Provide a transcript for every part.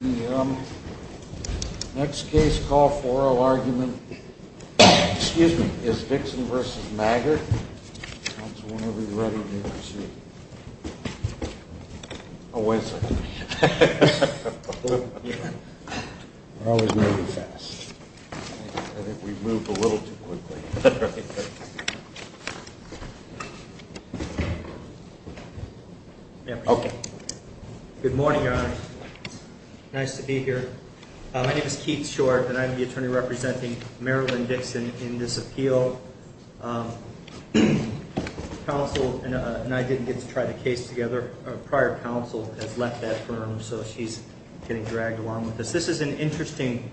The next case, call for oral argument, is Dixon v. Maggart. Counsel, whenever you're ready, we'll proceed. Oh, wait a second. We're always moving fast. I think we've moved a little too quickly. Okay. Good morning, Your Honor. Nice to be here. My name is Keith Short, and I'm the attorney representing Marilyn Dixon in this appeal. Counsel and I didn't get to try the case together. Prior counsel has left that firm, so she's getting dragged along with us. This is an interesting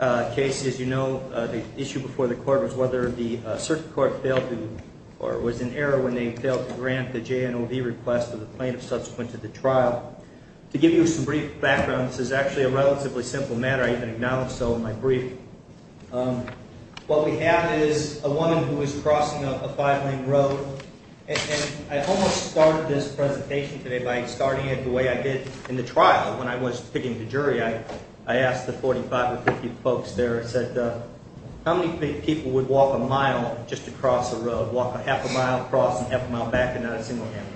case. As you know, the issue before the court was whether the circuit court failed to, or was in error when they failed to grant the JNOV request of the plaintiff subsequent to the trial. To give you some brief background, this is actually a relatively simple matter. I even acknowledge so in my brief. What we have is a woman who is crossing a five-lane road, and I almost started this presentation today by starting it the way I did in the trial. When I was picking the jury, I asked the 45 or 50 folks there, I said, how many people would walk a mile just to cross a road, walk a half a mile across and half a mile back, and not a single hand?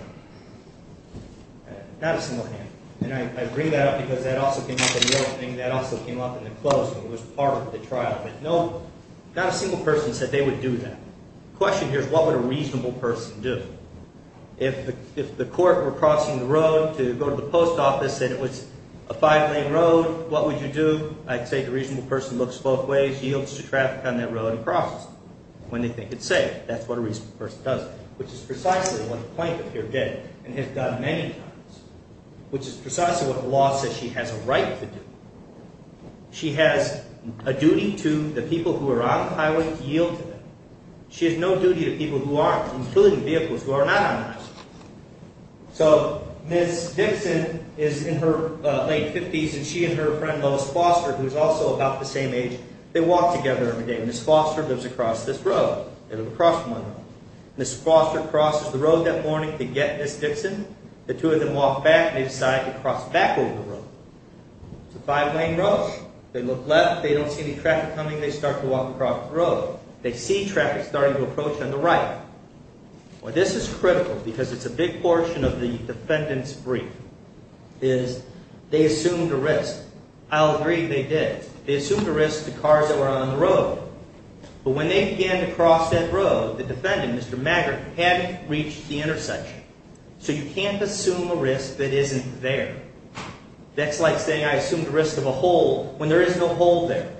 Not a single hand. And I bring that up because that also came up in the opening. That also came up in the closing. It was part of the trial. But no, not a single person said they would do that. The question here is what would a reasonable person do? If the court were crossing the road to go to the post office and it was a five-lane road, what would you do? I'd say the reasonable person looks both ways, yields to traffic on that road and crosses it when they think it's safe. That's what a reasonable person does, which is precisely what the plaintiff here did and has done many times, which is precisely what the law says she has a right to do. She has a duty to the people who are on the highway to yield to them. She has no duty to people who aren't, including vehicles who are not on the highway. So Ms. Dixon is in her late 50s, and she and her friend Lois Foster, who is also about the same age, they walk together every day. Ms. Foster lives across this road. They live across one road. Ms. Foster crosses the road that morning to get Ms. Dixon. The two of them walk back, and they decide to cross back over the road. It's a five-lane road. They look left. They don't see any traffic coming. They start to walk across the road. They see traffic starting to approach on the right. Well, this is critical because it's a big portion of the defendant's brief, is they assumed a risk. I'll agree they did. They assumed a risk to cars that were on the road. But when they began to cross that road, the defendant, Mr. Maggard, hadn't reached the intersection. So you can't assume a risk that isn't there. That's like saying I assumed a risk of a hole when there is no hole there.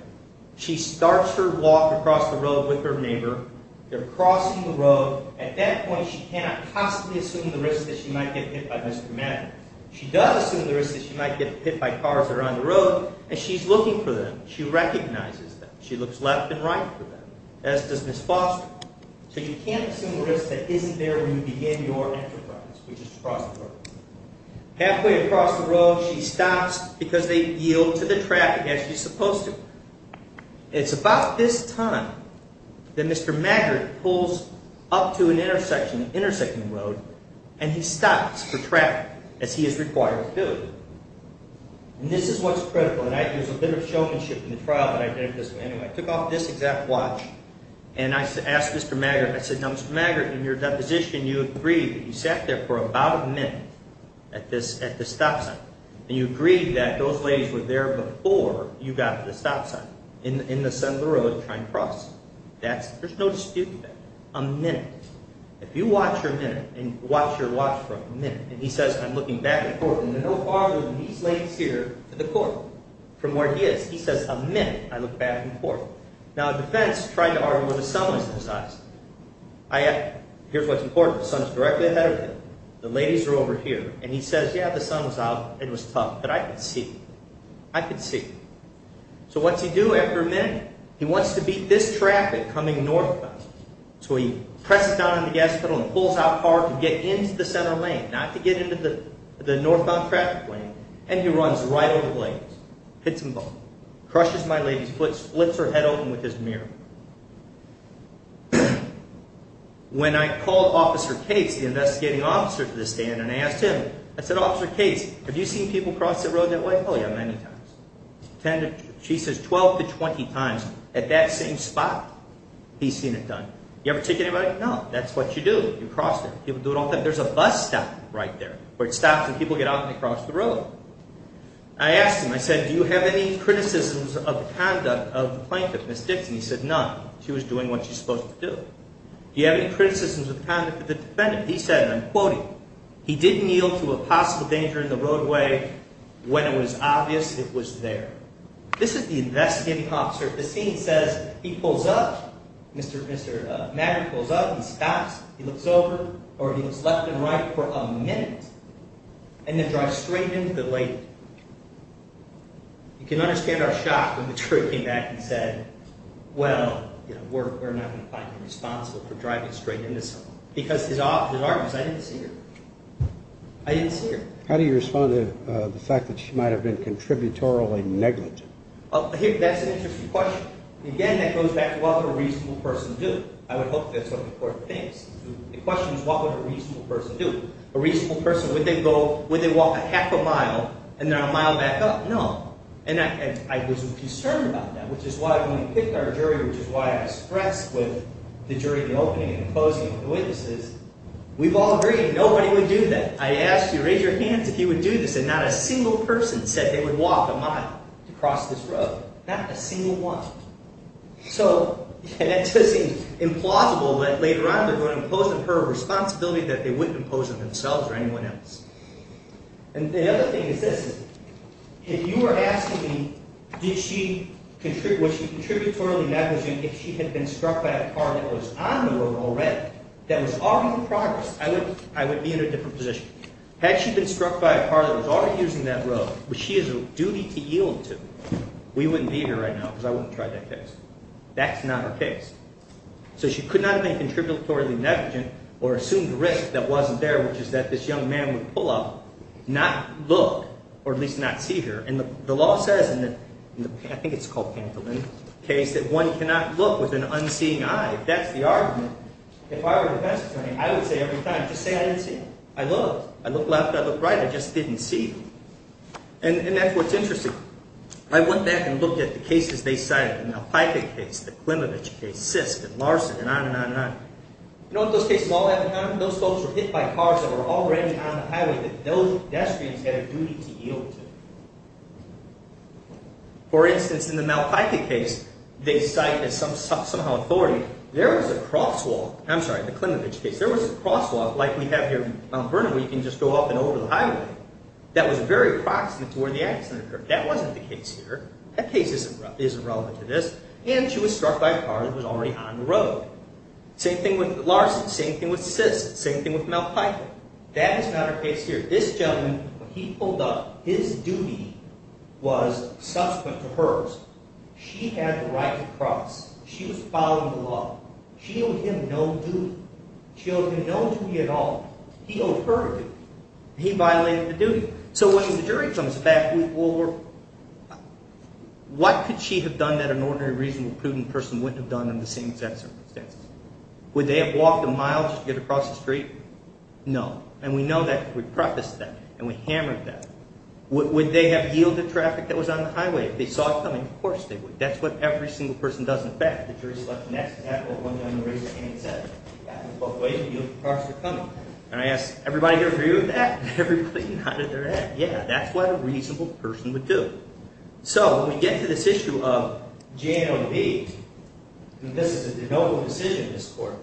She starts her walk across the road with her neighbor. They're crossing the road. At that point, she cannot possibly assume the risk that she might get hit by Mr. Maggard. She does assume the risk that she might get hit by cars that are on the road, and she's looking for them. She recognizes them. She looks left and right for them, as does Ms. Foster. So you can't assume a risk that isn't there when you begin your enterprise, which is to cross the road. Halfway across the road, she stops because they yield to the traffic as you're supposed to. It's about this time that Mr. Maggard pulls up to an intersection, an intersecting road, and he stops for traffic, as he is required to do. And this is what's critical, and I use a bit of showmanship in the trial that I did with this man. I took off this exact watch, and I asked Mr. Maggard, I said, Mr. Maggard, in your deposition, you agreed that you sat there for about a minute at this stop sign, and you agreed that those ladies were there before you got to the stop sign, in the center of the road trying to cross. There's no dispute there. A minute. If you watch your minute and watch your watch for a minute, and he says, I'm looking back and forth, and they're no farther than these lanes here to the corner from where he is. He says, a minute, I look back and forth. Now, the defense tried to argue where the sun was in his eyes. Here's what's important. The sun's directly ahead of him. The ladies are over here, and he says, yeah, the sun was out. It was tough, but I could see. I could see. So what's he do after a minute? He wants to beat this traffic coming northbound. So he presses down on the gas pedal and pulls out hard to get into the center lane, not to get into the northbound traffic lane, and he runs right over the ladies, hits them both, crushes my lady's foot, splits her head open with his mirror. When I called Officer Cates, the investigating officer to the stand, and I asked him, I said, Officer Cates, have you seen people cross the road that way? Oh, yeah, many times. She says 12 to 20 times at that same spot he's seen it done. You ever take anybody? No. That's what you do. You cross it. People do it all the time. There's a bus stop right there where it stops and people get out and they cross the road. I asked him, I said, do you have any criticisms of the conduct of the plaintiff, Miss Dixon? He said none. She was doing what she's supposed to do. Do you have any criticisms of the conduct of the defendant? He said, and I'm quoting, he didn't yield to a possible danger in the roadway when it was obvious it was there. This is the investigating officer. The scene says he pulls up, Mr. Maggard pulls up, he stops, he looks over, or he looks left and right for a minute, and then drives straight into the lady. You can understand our shock when the jury came back and said, well, we're not going to find you responsible for driving straight into someone. Because his argument was I didn't see her. I didn't see her. How do you respond to the fact that she might have been contributorily negligent? That's an interesting question. Again, that goes back to what would a reasonable person do? I would hope that's one of the important things. The question is what would a reasonable person do? A reasonable person, would they walk a half a mile and then a mile back up? No. And I was concerned about that, which is why when we picked our jury, which is why I expressed with the jury in the opening and opposing the witnesses, we've all agreed nobody would do that. I asked you to raise your hands if you would do this, and not a single person said they would walk a mile to cross this road. Not a single one. So that does seem implausible that later on they're going to impose on her a responsibility that they wouldn't impose on themselves or anyone else. And the other thing is this. If you were asking me was she contributorily negligent if she had been struck by a car that was on the road already, that was already in progress, I would be in a different position. Had she been struck by a car that was already using that road, which she has a duty to yield to, we wouldn't be here right now because I wouldn't try that case. That's not her case. So she could not have been contributorily negligent or assumed a risk that wasn't there, which is that this young man would pull up, not look, or at least not see her. And the law says in the – I think it's called Pantolin – case that one cannot look with an unseeing eye. If that's the argument, if I were a defense attorney, I would say every time, just say I didn't see. I looked. I looked left. I looked right. I just didn't see. And that's what's interesting. I went back and looked at the cases they cited, the Malpica case, the Klimovich case, Sisk and Larson and on and on and on. You know what those cases all have in common? Those folks were hit by cars that were already on the highway that those pedestrians had a duty to yield to. For instance, in the Malpica case, they cite as somehow authority, there was a crosswalk – I'm sorry, the Klimovich case. There was a crosswalk like we have here on Burnaby. You can just go up and over the highway. That was very proximate to where the accident occurred. That wasn't the case here. That case isn't relevant to this. And she was struck by a car that was already on the road. Same thing with Larson. Same thing with Sisk. Same thing with Malpica. That is not her case here. This gentleman, when he pulled up, his duty was subsequent to hers. She had the right to cross. She was following the law. She owed him no duty. She owed him no duty at all. He owed her a duty. He violated the duty. So when the jury comes back, what could she have done that an ordinary, reasonable, prudent person wouldn't have done in the same exact circumstances? Would they have walked the miles to get across the street? No. And we know that because we prefaced that, and we hammered that. Would they have yielded traffic that was on the highway if they saw it coming? Of course they would. That's what every single person does. And I asked, everybody here agree with that? Everybody nodded their head, yeah. That's what a reasonable person would do. So when we get to this issue of GNOD, this is a notable decision in this court.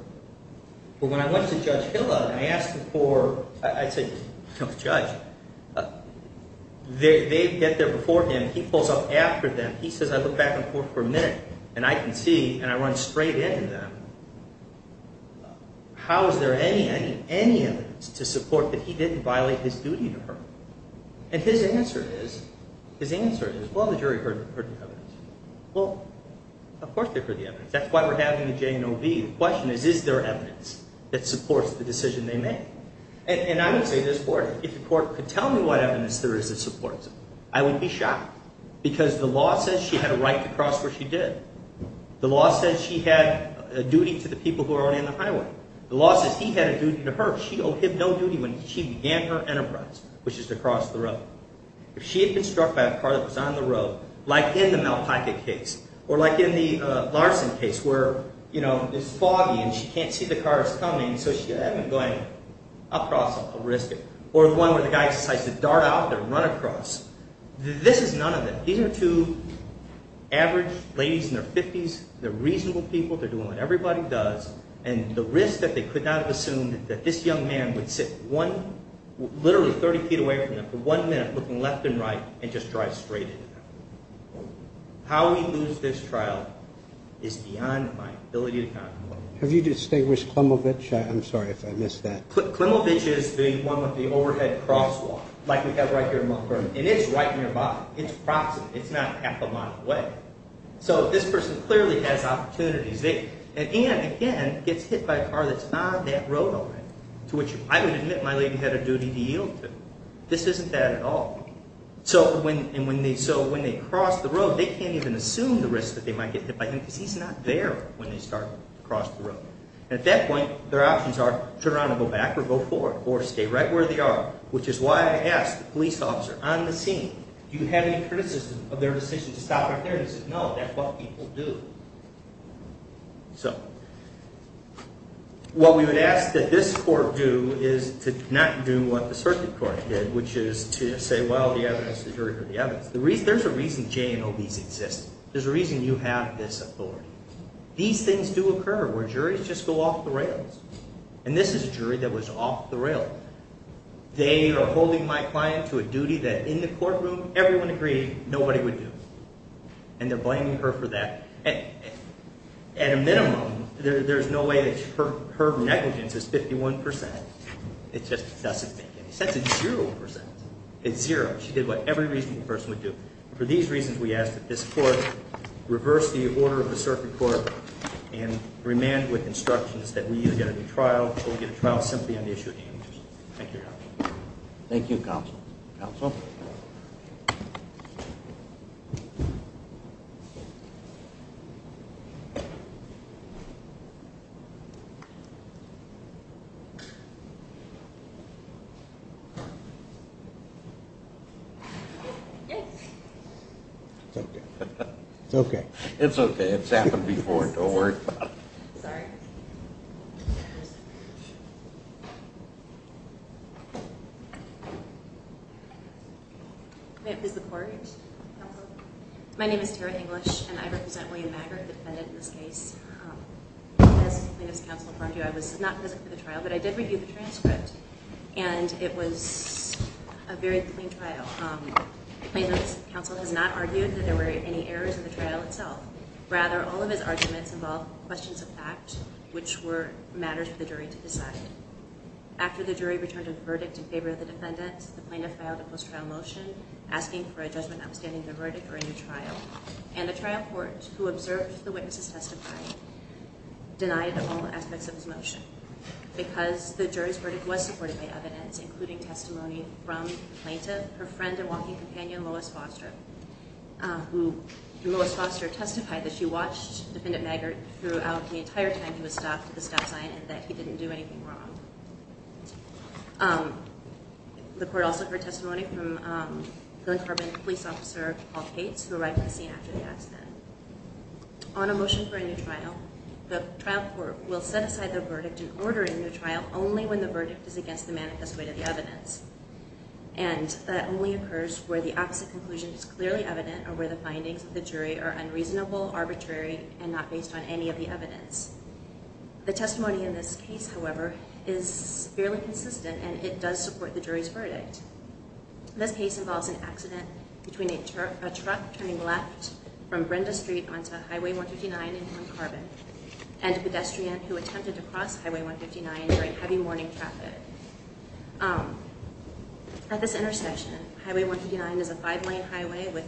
But when I went to Judge Hiller and I asked him for, I said, Judge, they get there before him. He pulls up after them. He says, I look back on the court for a minute, and I can see, and I run straight into them, how is there any, any, any evidence to support that he didn't violate his duty to her? And his answer is, his answer is, well, the jury heard the evidence. Well, of course they heard the evidence. That's why we're having the GNOD. The question is, is there evidence that supports the decision they made? And I would say to this court, if the court could tell me what evidence there is that supports it, I would be shocked. Because the law says she had a right to cross where she did. The law says she had a duty to the people who are on the highway. The law says he had a duty to her. She owed him no duty when she began her enterprise, which is to cross the road. If she had been struck by a car that was on the road, like in the Malpica case, or like in the Larson case, where, you know, it's foggy and she can't see the cars coming, so she had been going across a risk, or one where the guy decides to dart out and run across. This is none of them. These are two average ladies in their 50s. They're reasonable people. They're doing what everybody does. And the risk that they could not have assumed that this young man would sit one, literally 30 feet away from them for one minute looking left and right and just drive straight into them. How we lose this trial is beyond my ability to contemplate. Have you distinguished Klimovich? I'm sorry if I missed that. Klimovich is the one with the overhead crosswalk, like we have right here in Montgomery. And it's right nearby. It's proximate. It's not half a mile away. So this person clearly has opportunities. And, again, gets hit by a car that's not that road open, to which I would admit my lady had a duty to yield to. This isn't that at all. So when they cross the road, they can't even assume the risk that they might get hit by him because he's not there when they start to cross the road. And at that point, their options are turn around and go back or go forward or stay right where they are, which is why I asked the police officer on the scene, do you have any criticism of their decision to stop right there? He said, no, that's what people do. So what we would ask that this court do is to not do what the circuit court did, which is to say, well, the evidence, the jury heard the evidence. There's a reason J&OBs exist. There's a reason you have this authority. These things do occur where juries just go off the rails. And this is a jury that was off the rail. They are holding my client to a duty that in the courtroom everyone agreed nobody would do. And they're blaming her for that. At a minimum, there's no way that her negligence is 51%. It just doesn't make any sense. It's zero percent. It's zero. She did what every reasonable person would do. For these reasons, we ask that this court reverse the order of the circuit court and remand with instructions that we either get a new trial or we get a trial simply on the issue of damages. Thank you, Your Honor. Thank you, Counsel. Counsel? Yes. It's okay. It's okay. It's okay. It's happened before. Don't worry about it. Sorry. Is the court? Counsel? My name is Tara English, and I represent William Maggard, the defendant in this case. As plaintiff's counsel affirmed to you, I was not present for the trial, but I did review the transcript. And it was a very clean trial. The plaintiff's counsel has not argued that there were any errors in the trial itself. Rather, all of his arguments involved questions of fact, which were matters for the jury to decide. After the jury returned a verdict in favor of the defendant, the plaintiff filed a post-trial motion asking for a judgment notwithstanding the verdict or a new trial. And the trial court, who observed the witnesses testify, denied all aspects of his motion because the jury's verdict was supported by evidence, including testimony from the plaintiff, her friend and walking companion, Lois Foster. Lois Foster testified that she watched Defendant Maggard throughout the entire time he was stopped at the stop sign and that he didn't do anything wrong. The court also heard testimony from Glen Carbon Police Officer Paul Cates, who arrived at the scene after the accident. On a motion for a new trial, the trial court will set aside the verdict and order a new trial only when the verdict is against the manifest weight of the evidence. And that only occurs where the opposite conclusion is clearly evident or where the findings of the jury are unreasonable, arbitrary, and not based on any of the evidence. The testimony in this case, however, is fairly consistent and it does support the jury's verdict. This case involves an accident between a truck turning left from Brenda Street onto Highway 159 in Glen Carbon and a pedestrian who attempted to cross Highway 159 during heavy morning traffic. At this intersection, Highway 159 is a five-lane highway with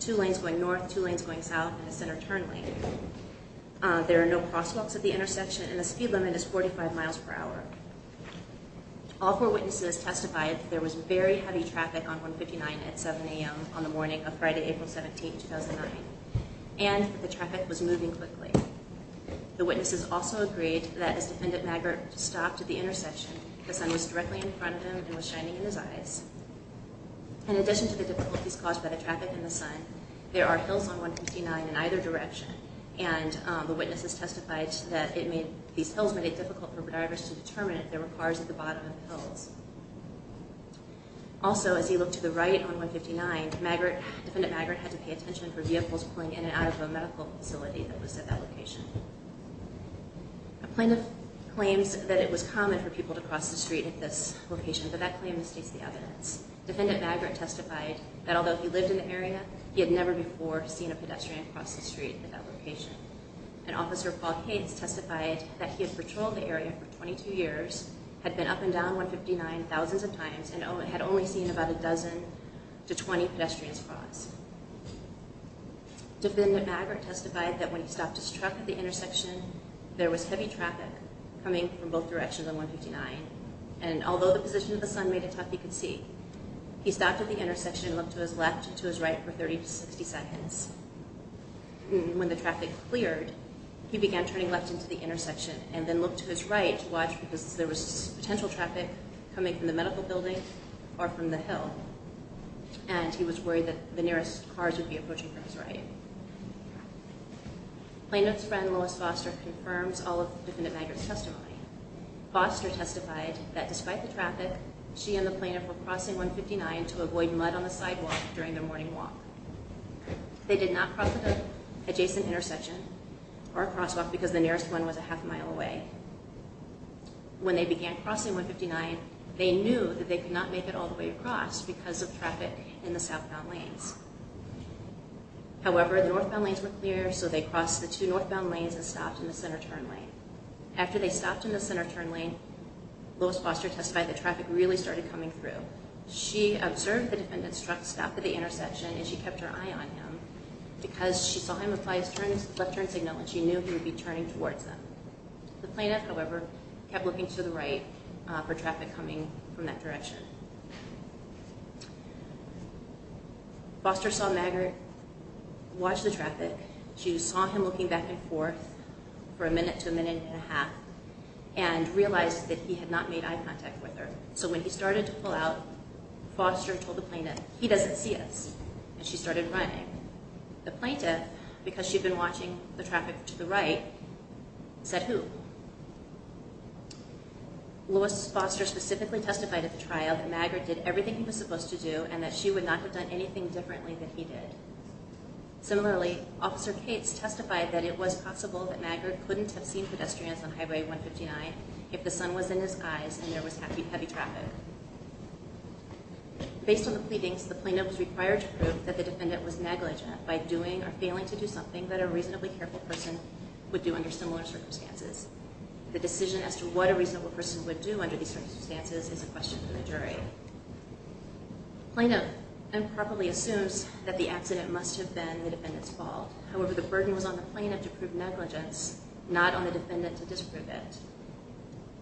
two lanes going north, two lanes going south, and a center turn lane. There are no crosswalks at the intersection and the speed limit is 45 miles per hour. All four witnesses testified that there was very heavy traffic on 159 at 7 a.m. on the morning of Friday, April 17, 2009, and that the traffic was moving quickly. The witnesses also agreed that as Defendant Magritte stopped at the intersection, the sun was directly in front of him and was shining in his eyes. In addition to the difficulties caused by the traffic and the sun, there are hills on 159 in either direction and the witnesses testified that these hills made it difficult for drivers to determine if there were cars at the bottom of the hills. Also, as he looked to the right on 159, Defendant Magritte had to pay attention for vehicles pulling in and out of a medical facility that was at that location. A plaintiff claims that it was common for people to cross the street at this location, but that claim misstates the evidence. Defendant Magritte testified that although he lived in the area, he had never before seen a pedestrian cross the street at that location. And Officer Paul Cates testified that he had patrolled the area for 22 years, had been up and down 159 thousands of times, and had only seen about a dozen to 20 pedestrians cross. Defendant Magritte testified that when he stopped his truck at the intersection, there was heavy traffic coming from both directions on 159, and although the position of the sun made it tough, he could see. He stopped at the intersection and looked to his left and to his right for 30 to 60 seconds. When the traffic cleared, he began turning left into the intersection and then looked to his right to watch because there was potential traffic coming from the medical building or from the hill. And he was worried that the nearest cars would be approaching from his right. Plaintiff's friend, Lois Foster, confirms all of Defendant Magritte's testimony. Foster testified that despite the traffic, she and the plaintiff were crossing 159 to avoid mud on the sidewalk during their morning walk. They did not cross at the adjacent intersection or crosswalk because the nearest one was a half mile away. When they began crossing 159, they knew that they could not make it all the way across because of traffic in the southbound lanes. However, the northbound lanes were clear, so they crossed the two northbound lanes and stopped in the center turn lane. After they stopped in the center turn lane, Lois Foster testified that traffic really started coming through. She observed the defendant's truck stop at the intersection and she kept her eye on him because she saw him apply his left turn signal and she knew he would be turning towards them. The plaintiff, however, kept looking to the right for traffic coming from that direction. Foster saw Magritte watch the traffic. She saw him looking back and forth for a minute to a minute and a half and realized that he had not made eye contact with her. So when he started to pull out, Foster told the plaintiff, he doesn't see us, and she started running. The plaintiff, because she had been watching the traffic to the right, said, who? Lois Foster specifically testified at the trial that Magritte did everything he was supposed to do and that she would not have done anything differently than he did. Similarly, Officer Cates testified that it was possible that Magritte couldn't have seen pedestrians on Highway 159 if the sun was in his eyes and there was heavy traffic. Based on the pleadings, the plaintiff was required to prove that the defendant was negligent by doing or failing to do something that a reasonably careful person would do under similar circumstances. The decision as to what a reasonable person would do under these circumstances is a question for the jury. The plaintiff improperly assumes that the accident must have been the defendant's fault. However, the burden was on the plaintiff to prove negligence, not on the defendant to disprove it.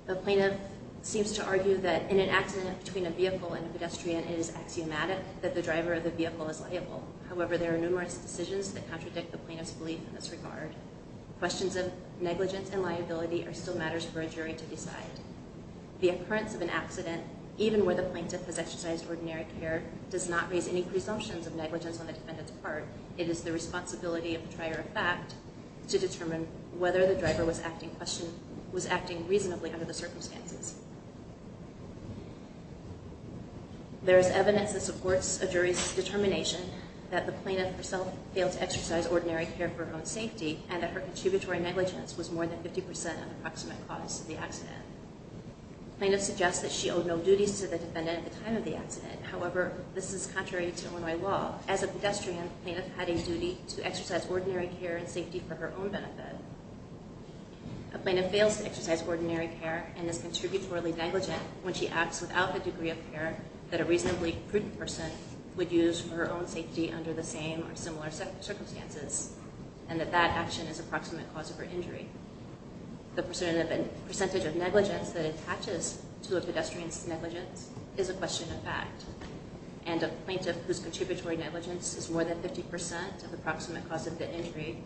The plaintiff seems to argue that in an accident between a vehicle and a pedestrian, it is axiomatic that the driver of the vehicle is liable. However, there are numerous decisions that contradict the plaintiff's belief in this regard. Questions of negligence and liability are still matters for a jury to decide. The occurrence of an accident, even where the plaintiff has exercised ordinary care, does not raise any presumptions of negligence on the defendant's part. It is the responsibility of the trier of fact to determine whether the driver was acting reasonably under the circumstances. There is evidence that supports a jury's determination that the plaintiff herself failed to exercise ordinary care for her own safety and that her contributory negligence was more than 50% an approximate cause of the accident. The plaintiff suggests that she owed no duties to the defendant at the time of the accident. However, this is contrary to Illinois law. As a pedestrian, the plaintiff had a duty to exercise ordinary care and safety for her own benefit. A plaintiff fails to exercise ordinary care and is contributory negligent when she acts without the degree of care that a reasonably prudent person would use for her own safety under the same or similar circumstances and that that action is an approximate cause of her injury. The percentage of negligence that attaches to a pedestrian's negligence is a question of fact. And a plaintiff whose contributory negligence is more than 50% an approximate cause of the injury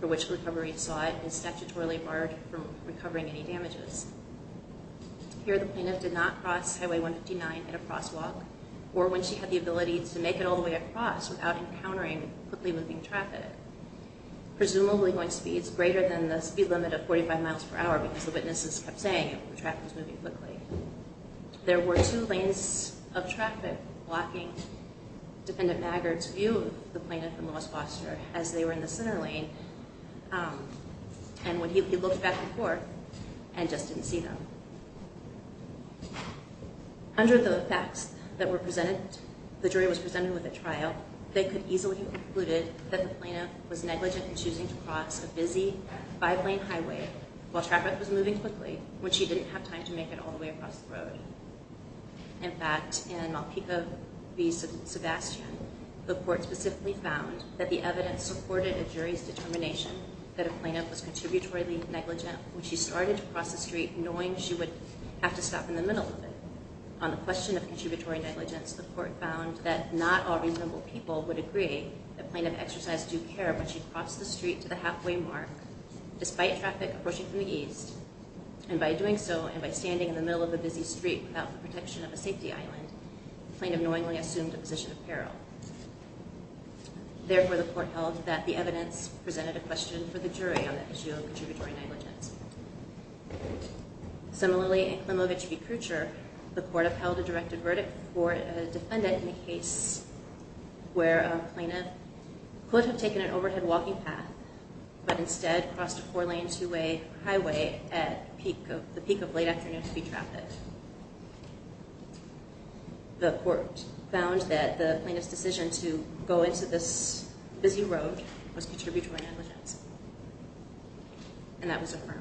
for which the recovery sought is statutorily barred from recovering any damages. Here, the plaintiff did not cross Highway 159 at a crosswalk or when she had the ability to make it all the way across without encountering quickly moving traffic. Presumably going speeds greater than the speed limit of 45 miles per hour because the witnesses kept saying the traffic was moving quickly. There were two lanes of traffic blocking Defendant Maggard's view of the plaintiff and Louis Foster as they were in the center lane and when he looked back and forth and just didn't see them. Under the facts that were presented, the jury was presented with a trial, but they could easily have concluded that the plaintiff was negligent in choosing to cross a busy five-lane highway while traffic was moving quickly when she didn't have time to make it all the way across the road. In fact, in Malpica v. Sebastian, the court specifically found that the evidence supported a jury's determination that a plaintiff was contributory negligent when she started to cross the street knowing she would have to stop in the middle of it. On the question of contributory negligence, the court found that not all reasonable people would agree that plaintiff exercised due care when she crossed the street to the halfway mark despite traffic approaching from the east, and by doing so and by standing in the middle of a busy street without the protection of a safety island, the plaintiff knowingly assumed a position of peril. Therefore, the court held that the evidence presented a question for the jury on the issue of contributory negligence. Similarly, in Klimovich v. Kreutzer, the court upheld a directed verdict for a defendant in the case where a plaintiff could have taken an overhead walking path but instead crossed a four-lane, two-way highway at the peak of late afternoon speed traffic. The court found that the plaintiff's decision to go into this busy road was contributory negligence, and that was affirmed.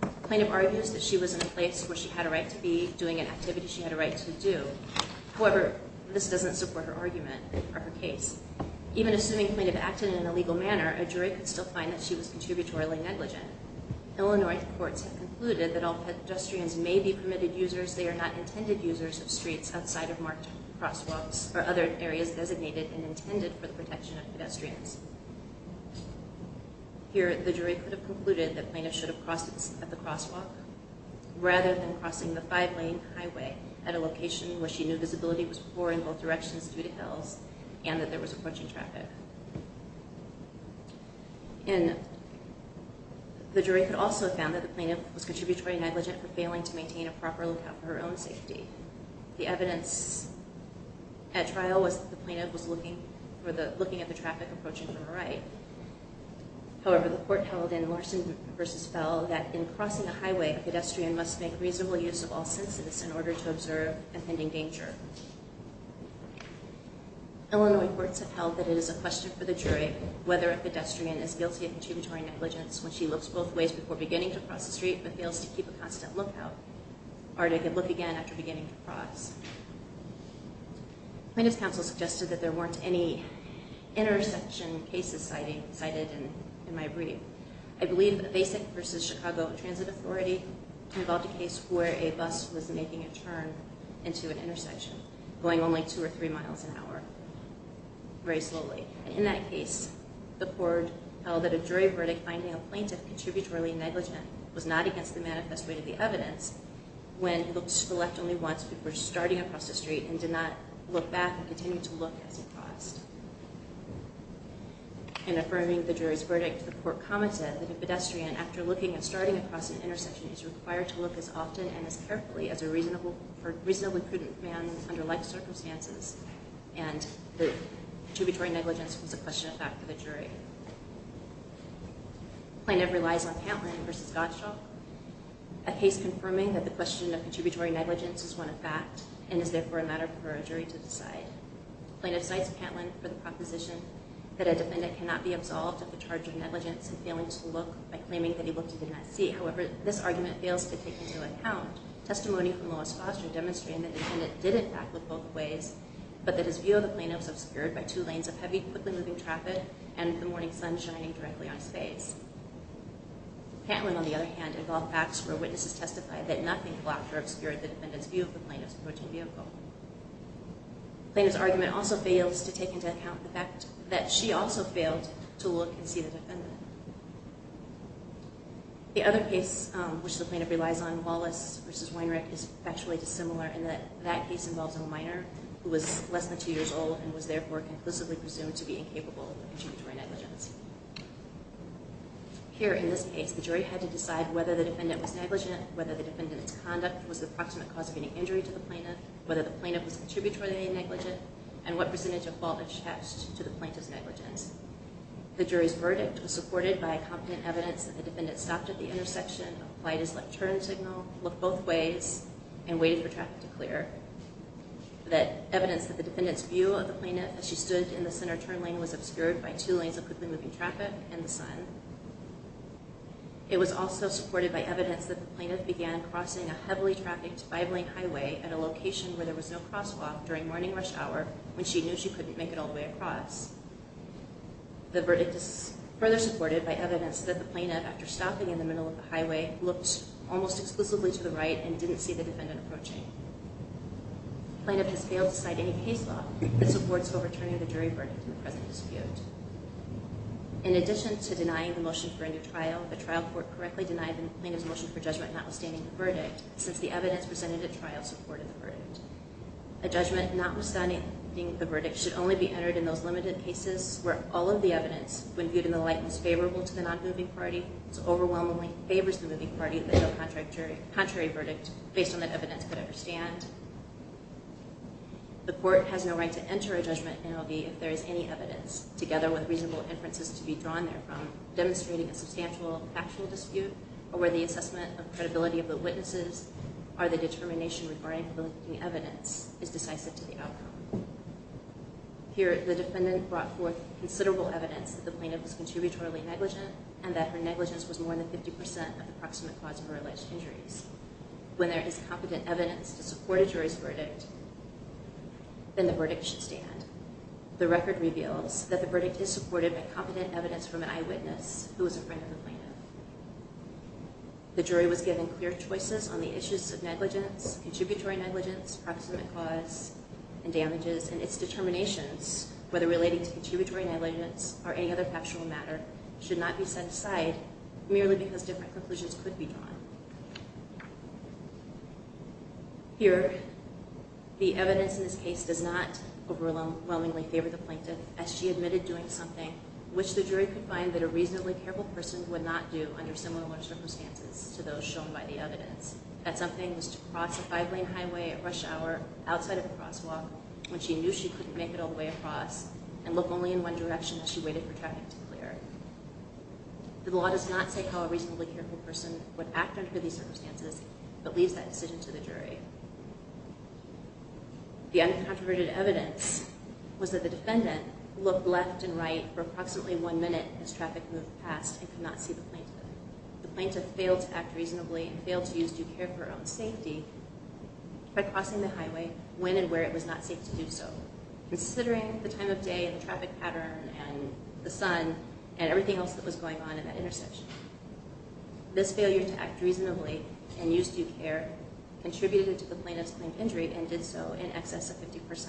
The plaintiff argues that she was in a place where she had a right to be doing an activity she had a right to do. However, this doesn't support her argument or her case. Even assuming plaintiff acted in a legal manner, a jury could still find that she was contributory negligent. Illinois courts have concluded that all pedestrians may be permitted users, they are not intended users of streets outside of marked crosswalks or other areas designated and intended for the protection of pedestrians. Here, the jury could have concluded that plaintiff should have crossed at the crosswalk rather than crossing the five-lane highway at a location where she knew visibility was poor in both directions due to hills and that there was approaching traffic. And the jury could also have found that the plaintiff was contributory negligent for failing to maintain a proper lookout for her own safety. The evidence at trial was that the plaintiff was looking at the traffic approaching from her right However, the court held in Larson v. Fell that in crossing a highway, a pedestrian must make reasonable use of all senses in order to observe offending danger. Illinois courts have held that it is a question for the jury whether a pedestrian is guilty of contributory negligence when she looks both ways before beginning to cross the street but fails to keep a constant lookout or to look again after beginning to cross. Plaintiff's counsel suggested that there weren't any intersection cases cited in my brief. I believe that the Basic v. Chicago Transit Authority involved a case where a bus was making a turn into an intersection going only two or three miles an hour very slowly. In that case, the court held that a jury verdict finding a plaintiff contributory negligent was not against the manifest way to the evidence when he looked to the left only once before starting across the street and did not look back and continue to look as he crossed. In affirming the jury's verdict, the court commented that a pedestrian, after looking and starting across an intersection, is required to look as often and as carefully as a reasonably prudent man under like circumstances and that contributory negligence was a question of fact for the jury. Plaintiff relies on Pantland v. Gottschalk. A case confirming that the question of contributory negligence is one of fact and is therefore a matter for a jury to decide. Plaintiff cites Pantland for the proposition that a defendant cannot be absolved of the charge of negligence in failing to look by claiming that he looked and did not see. However, this argument fails to take into account testimony from Lois Foster demonstrating that the defendant did in fact look both ways, but that his view of the plaintiff was obscured by two lanes of heavy, quickly moving traffic and the morning sun shining directly on his face. Pantland, on the other hand, involved facts where witnesses testified that nothing will obscure the defendant's view of the plaintiff's approaching vehicle. Plaintiff's argument also fails to take into account the fact that she also failed to look and see the defendant. The other case which the plaintiff relies on, Wallace v. Weinreich, is factually dissimilar in that that case involves a minor who was less than two years old and was therefore conclusively presumed to be incapable of contributory negligence. Here, in this case, the jury had to decide whether the defendant was negligent, whether the defendant's conduct was the approximate cause of any injury to the plaintiff, whether the plaintiff was contributory negligent, and what percentage of fault attached to the plaintiff's negligence. The jury's verdict was supported by confident evidence that the defendant stopped at the intersection, applied his left turn signal, looked both ways, and waited for traffic to clear. Evidence that the defendant's view of the plaintiff as she stood in the center turn lane was obscured by two lanes of quickly moving traffic and the sun. It was also supported by evidence that the plaintiff began crossing a heavily trafficked five-lane highway at a location where there was no crosswalk during morning rush hour when she knew she couldn't make it all the way across. The verdict is further supported by evidence that the plaintiff, after stopping in the middle of the highway, looked almost exclusively to the right and didn't see the defendant approaching. The plaintiff has failed to cite any case law that supports overturning the jury verdict in the present dispute. In addition to denying the motion for a new trial, the trial court correctly denied the plaintiff's motion for judgment notwithstanding the verdict, since the evidence presented at trial supported the verdict. A judgment notwithstanding the verdict should only be entered in those limited cases where all of the evidence, when viewed in the light as favorable to the non-moving party, overwhelmingly favors the moving party that held the contrary verdict based on that evidence could ever stand. The court has no right to enter a judgment in L.B. if there is any evidence, even with reasonable inferences to be drawn therefrom, demonstrating a substantial factual dispute or where the assessment of credibility of the witnesses or the determination regarding the evidence is decisive to the outcome. Here, the defendant brought forth considerable evidence that the plaintiff was contributory negligent and that her negligence was more than 50% of the approximate cause of her alleged injuries. When there is competent evidence to support a jury's verdict, then the verdict should stand. The record reveals that the verdict is supported by competent evidence from an eyewitness who was a friend of the plaintiff. The jury was given clear choices on the issues of negligence, contributory negligence, approximate cause and damages, and its determinations, whether relating to contributory negligence or any other factual matter, should not be set aside merely because different conclusions could be drawn. Here, the evidence in this case does not overwhelmingly favor the plaintiff as she admitted doing something which the jury could find that a reasonably careful person would not do under similar circumstances to those shown by the evidence, that something was to cross a five-lane highway at rush hour outside of the crosswalk when she knew she couldn't make it all the way across and look only in one direction as she waited for traffic to clear. The law does not say how a reasonably careful person would act under these circumstances but leaves that decision to the jury. The uncontroverted evidence was that the defendant looked left and right for approximately one minute as traffic moved past and could not see the plaintiff. The plaintiff failed to act reasonably and failed to use due care for her own safety by crossing the highway when and where it was not safe to do so, considering the time of day and the traffic pattern and the sun and everything else that was going on at that intersection. This failure to act reasonably and use due care contributed to the plaintiff's claimed injury and did so in excess of 50%.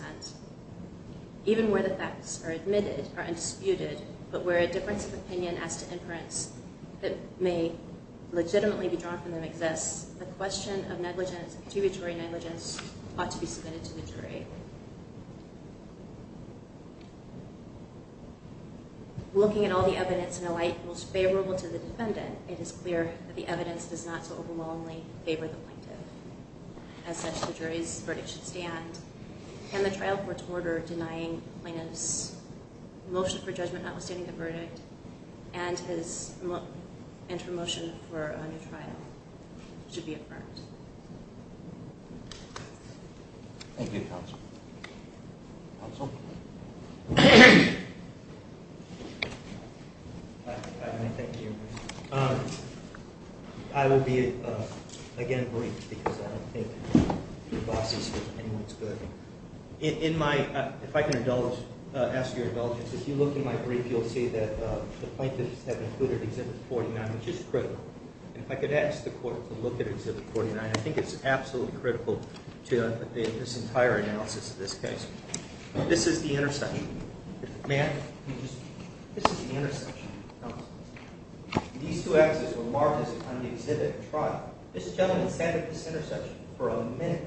Even where the facts are admitted, are undisputed, but where a difference of opinion as to inference that may legitimately be drawn from them exists, the question of negligence, contributory negligence, ought to be submitted to the jury. Looking at all the evidence in a light most favorable to the defendant, it is clear that the evidence does not so overwhelmingly favor the plaintiff. As such, the jury's verdict should stand and the trial court's order denying the plaintiff's motion for judgment notwithstanding the verdict and his intermotion for a new trial should be affirmed. Thank you, counsel. Counsel? I will be, again, brief because I don't think anyone's good. If I can ask your indulgence, if you look in my brief, you'll see that the plaintiffs have included Exhibit 49, which is critical. If I could ask the court to look at Exhibit 49, I think it's absolutely critical to this entire analysis of this case. This is the intersection. May I? This is the intersection. These two axes were marked on the exhibit trial. For a minute,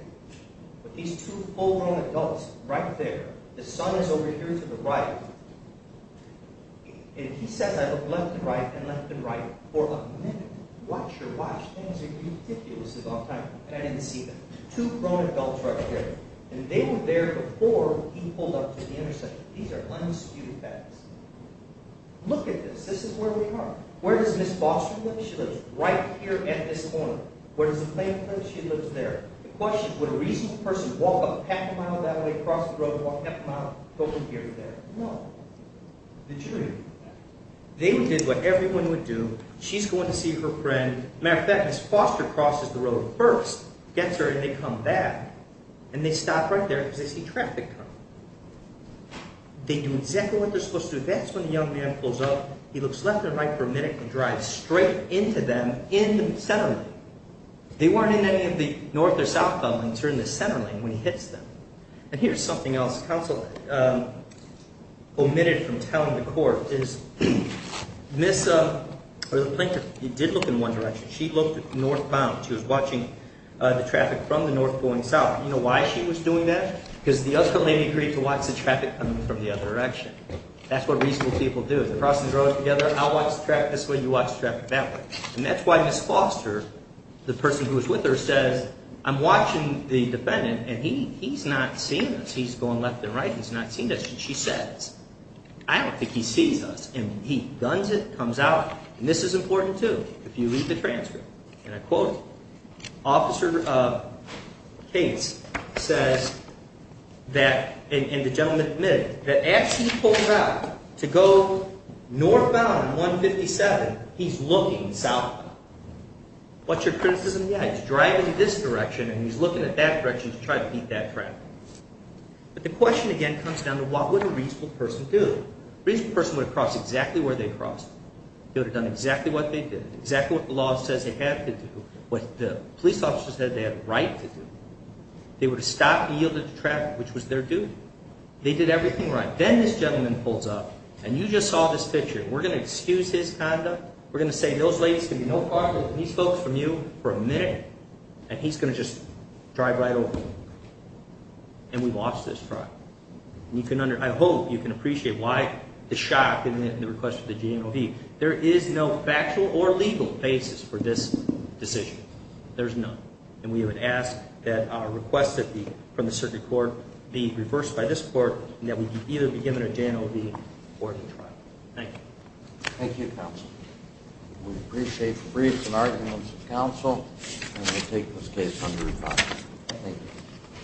with these two full-grown adults right there, the son is over here to the right, and he says, I looked left and right and left and right for a minute. Watch your watch. Things are ridiculous about time, and I didn't see them. Two grown adults right here, and they were there before he pulled up to the intersection. These are unexecuted facts. Look at this. Would a reasonable person walk up half a mile that way, cross the road, walk half a mile, go from here to there? No. Did you? They did what everyone would do. She's going to see her friend. As a matter of fact, his foster crosses the road first, gets her, and they come back, and they stop right there because they see traffic coming. They do exactly what they're supposed to do. That's when a young man pulls up. He looks left and right for a minute and drives straight into them in the center lane. They weren't in any of the north or south when he turned the center lane when he hits them. And here's something else counsel omitted from telling the court. The plaintiff did look in one direction. She looked northbound. She was watching the traffic from the north going south. Do you know why she was doing that? Because the other lady agreed to watch the traffic coming from the other direction. That's what reasonable people do. They cross the road together. I watch the traffic this way. You watch the traffic that way. And that's why Ms. Foster, the person who was with her, says I'm watching the defendant and he's not seeing us. He's going left and right. He's not seeing us. And she says, I don't think he sees us. She says that, and the gentleman admitted, that as he pulls out to go northbound 157, he's looking southbound. What's your criticism? Yeah, he's driving this direction and he's looking at that direction to try to beat that traffic. But the question again comes down to what would a reasonable person do? A reasonable person would have crossed exactly where they crossed. They would have done exactly what they did, exactly what the law says they had to do, what the police officer said they had a right to do. They would have stopped and yielded to traffic, which was their duty. They did everything right. Then this gentleman pulls up and you just saw this picture. We're going to excuse his conduct. We're going to say those ladies can be no farther than these folks from you for a minute, and he's going to just drive right over them. And we watched this drive. I hope you can appreciate that there is no legal basis for this decision. There's none. And we would ask that our request from the circuit court be reversed by this court and that we either be given a J&OB or the trial. Thank you. Thank you, counsel. We appreciate the briefs and arguments of counsel and we take this case under review. Thank you.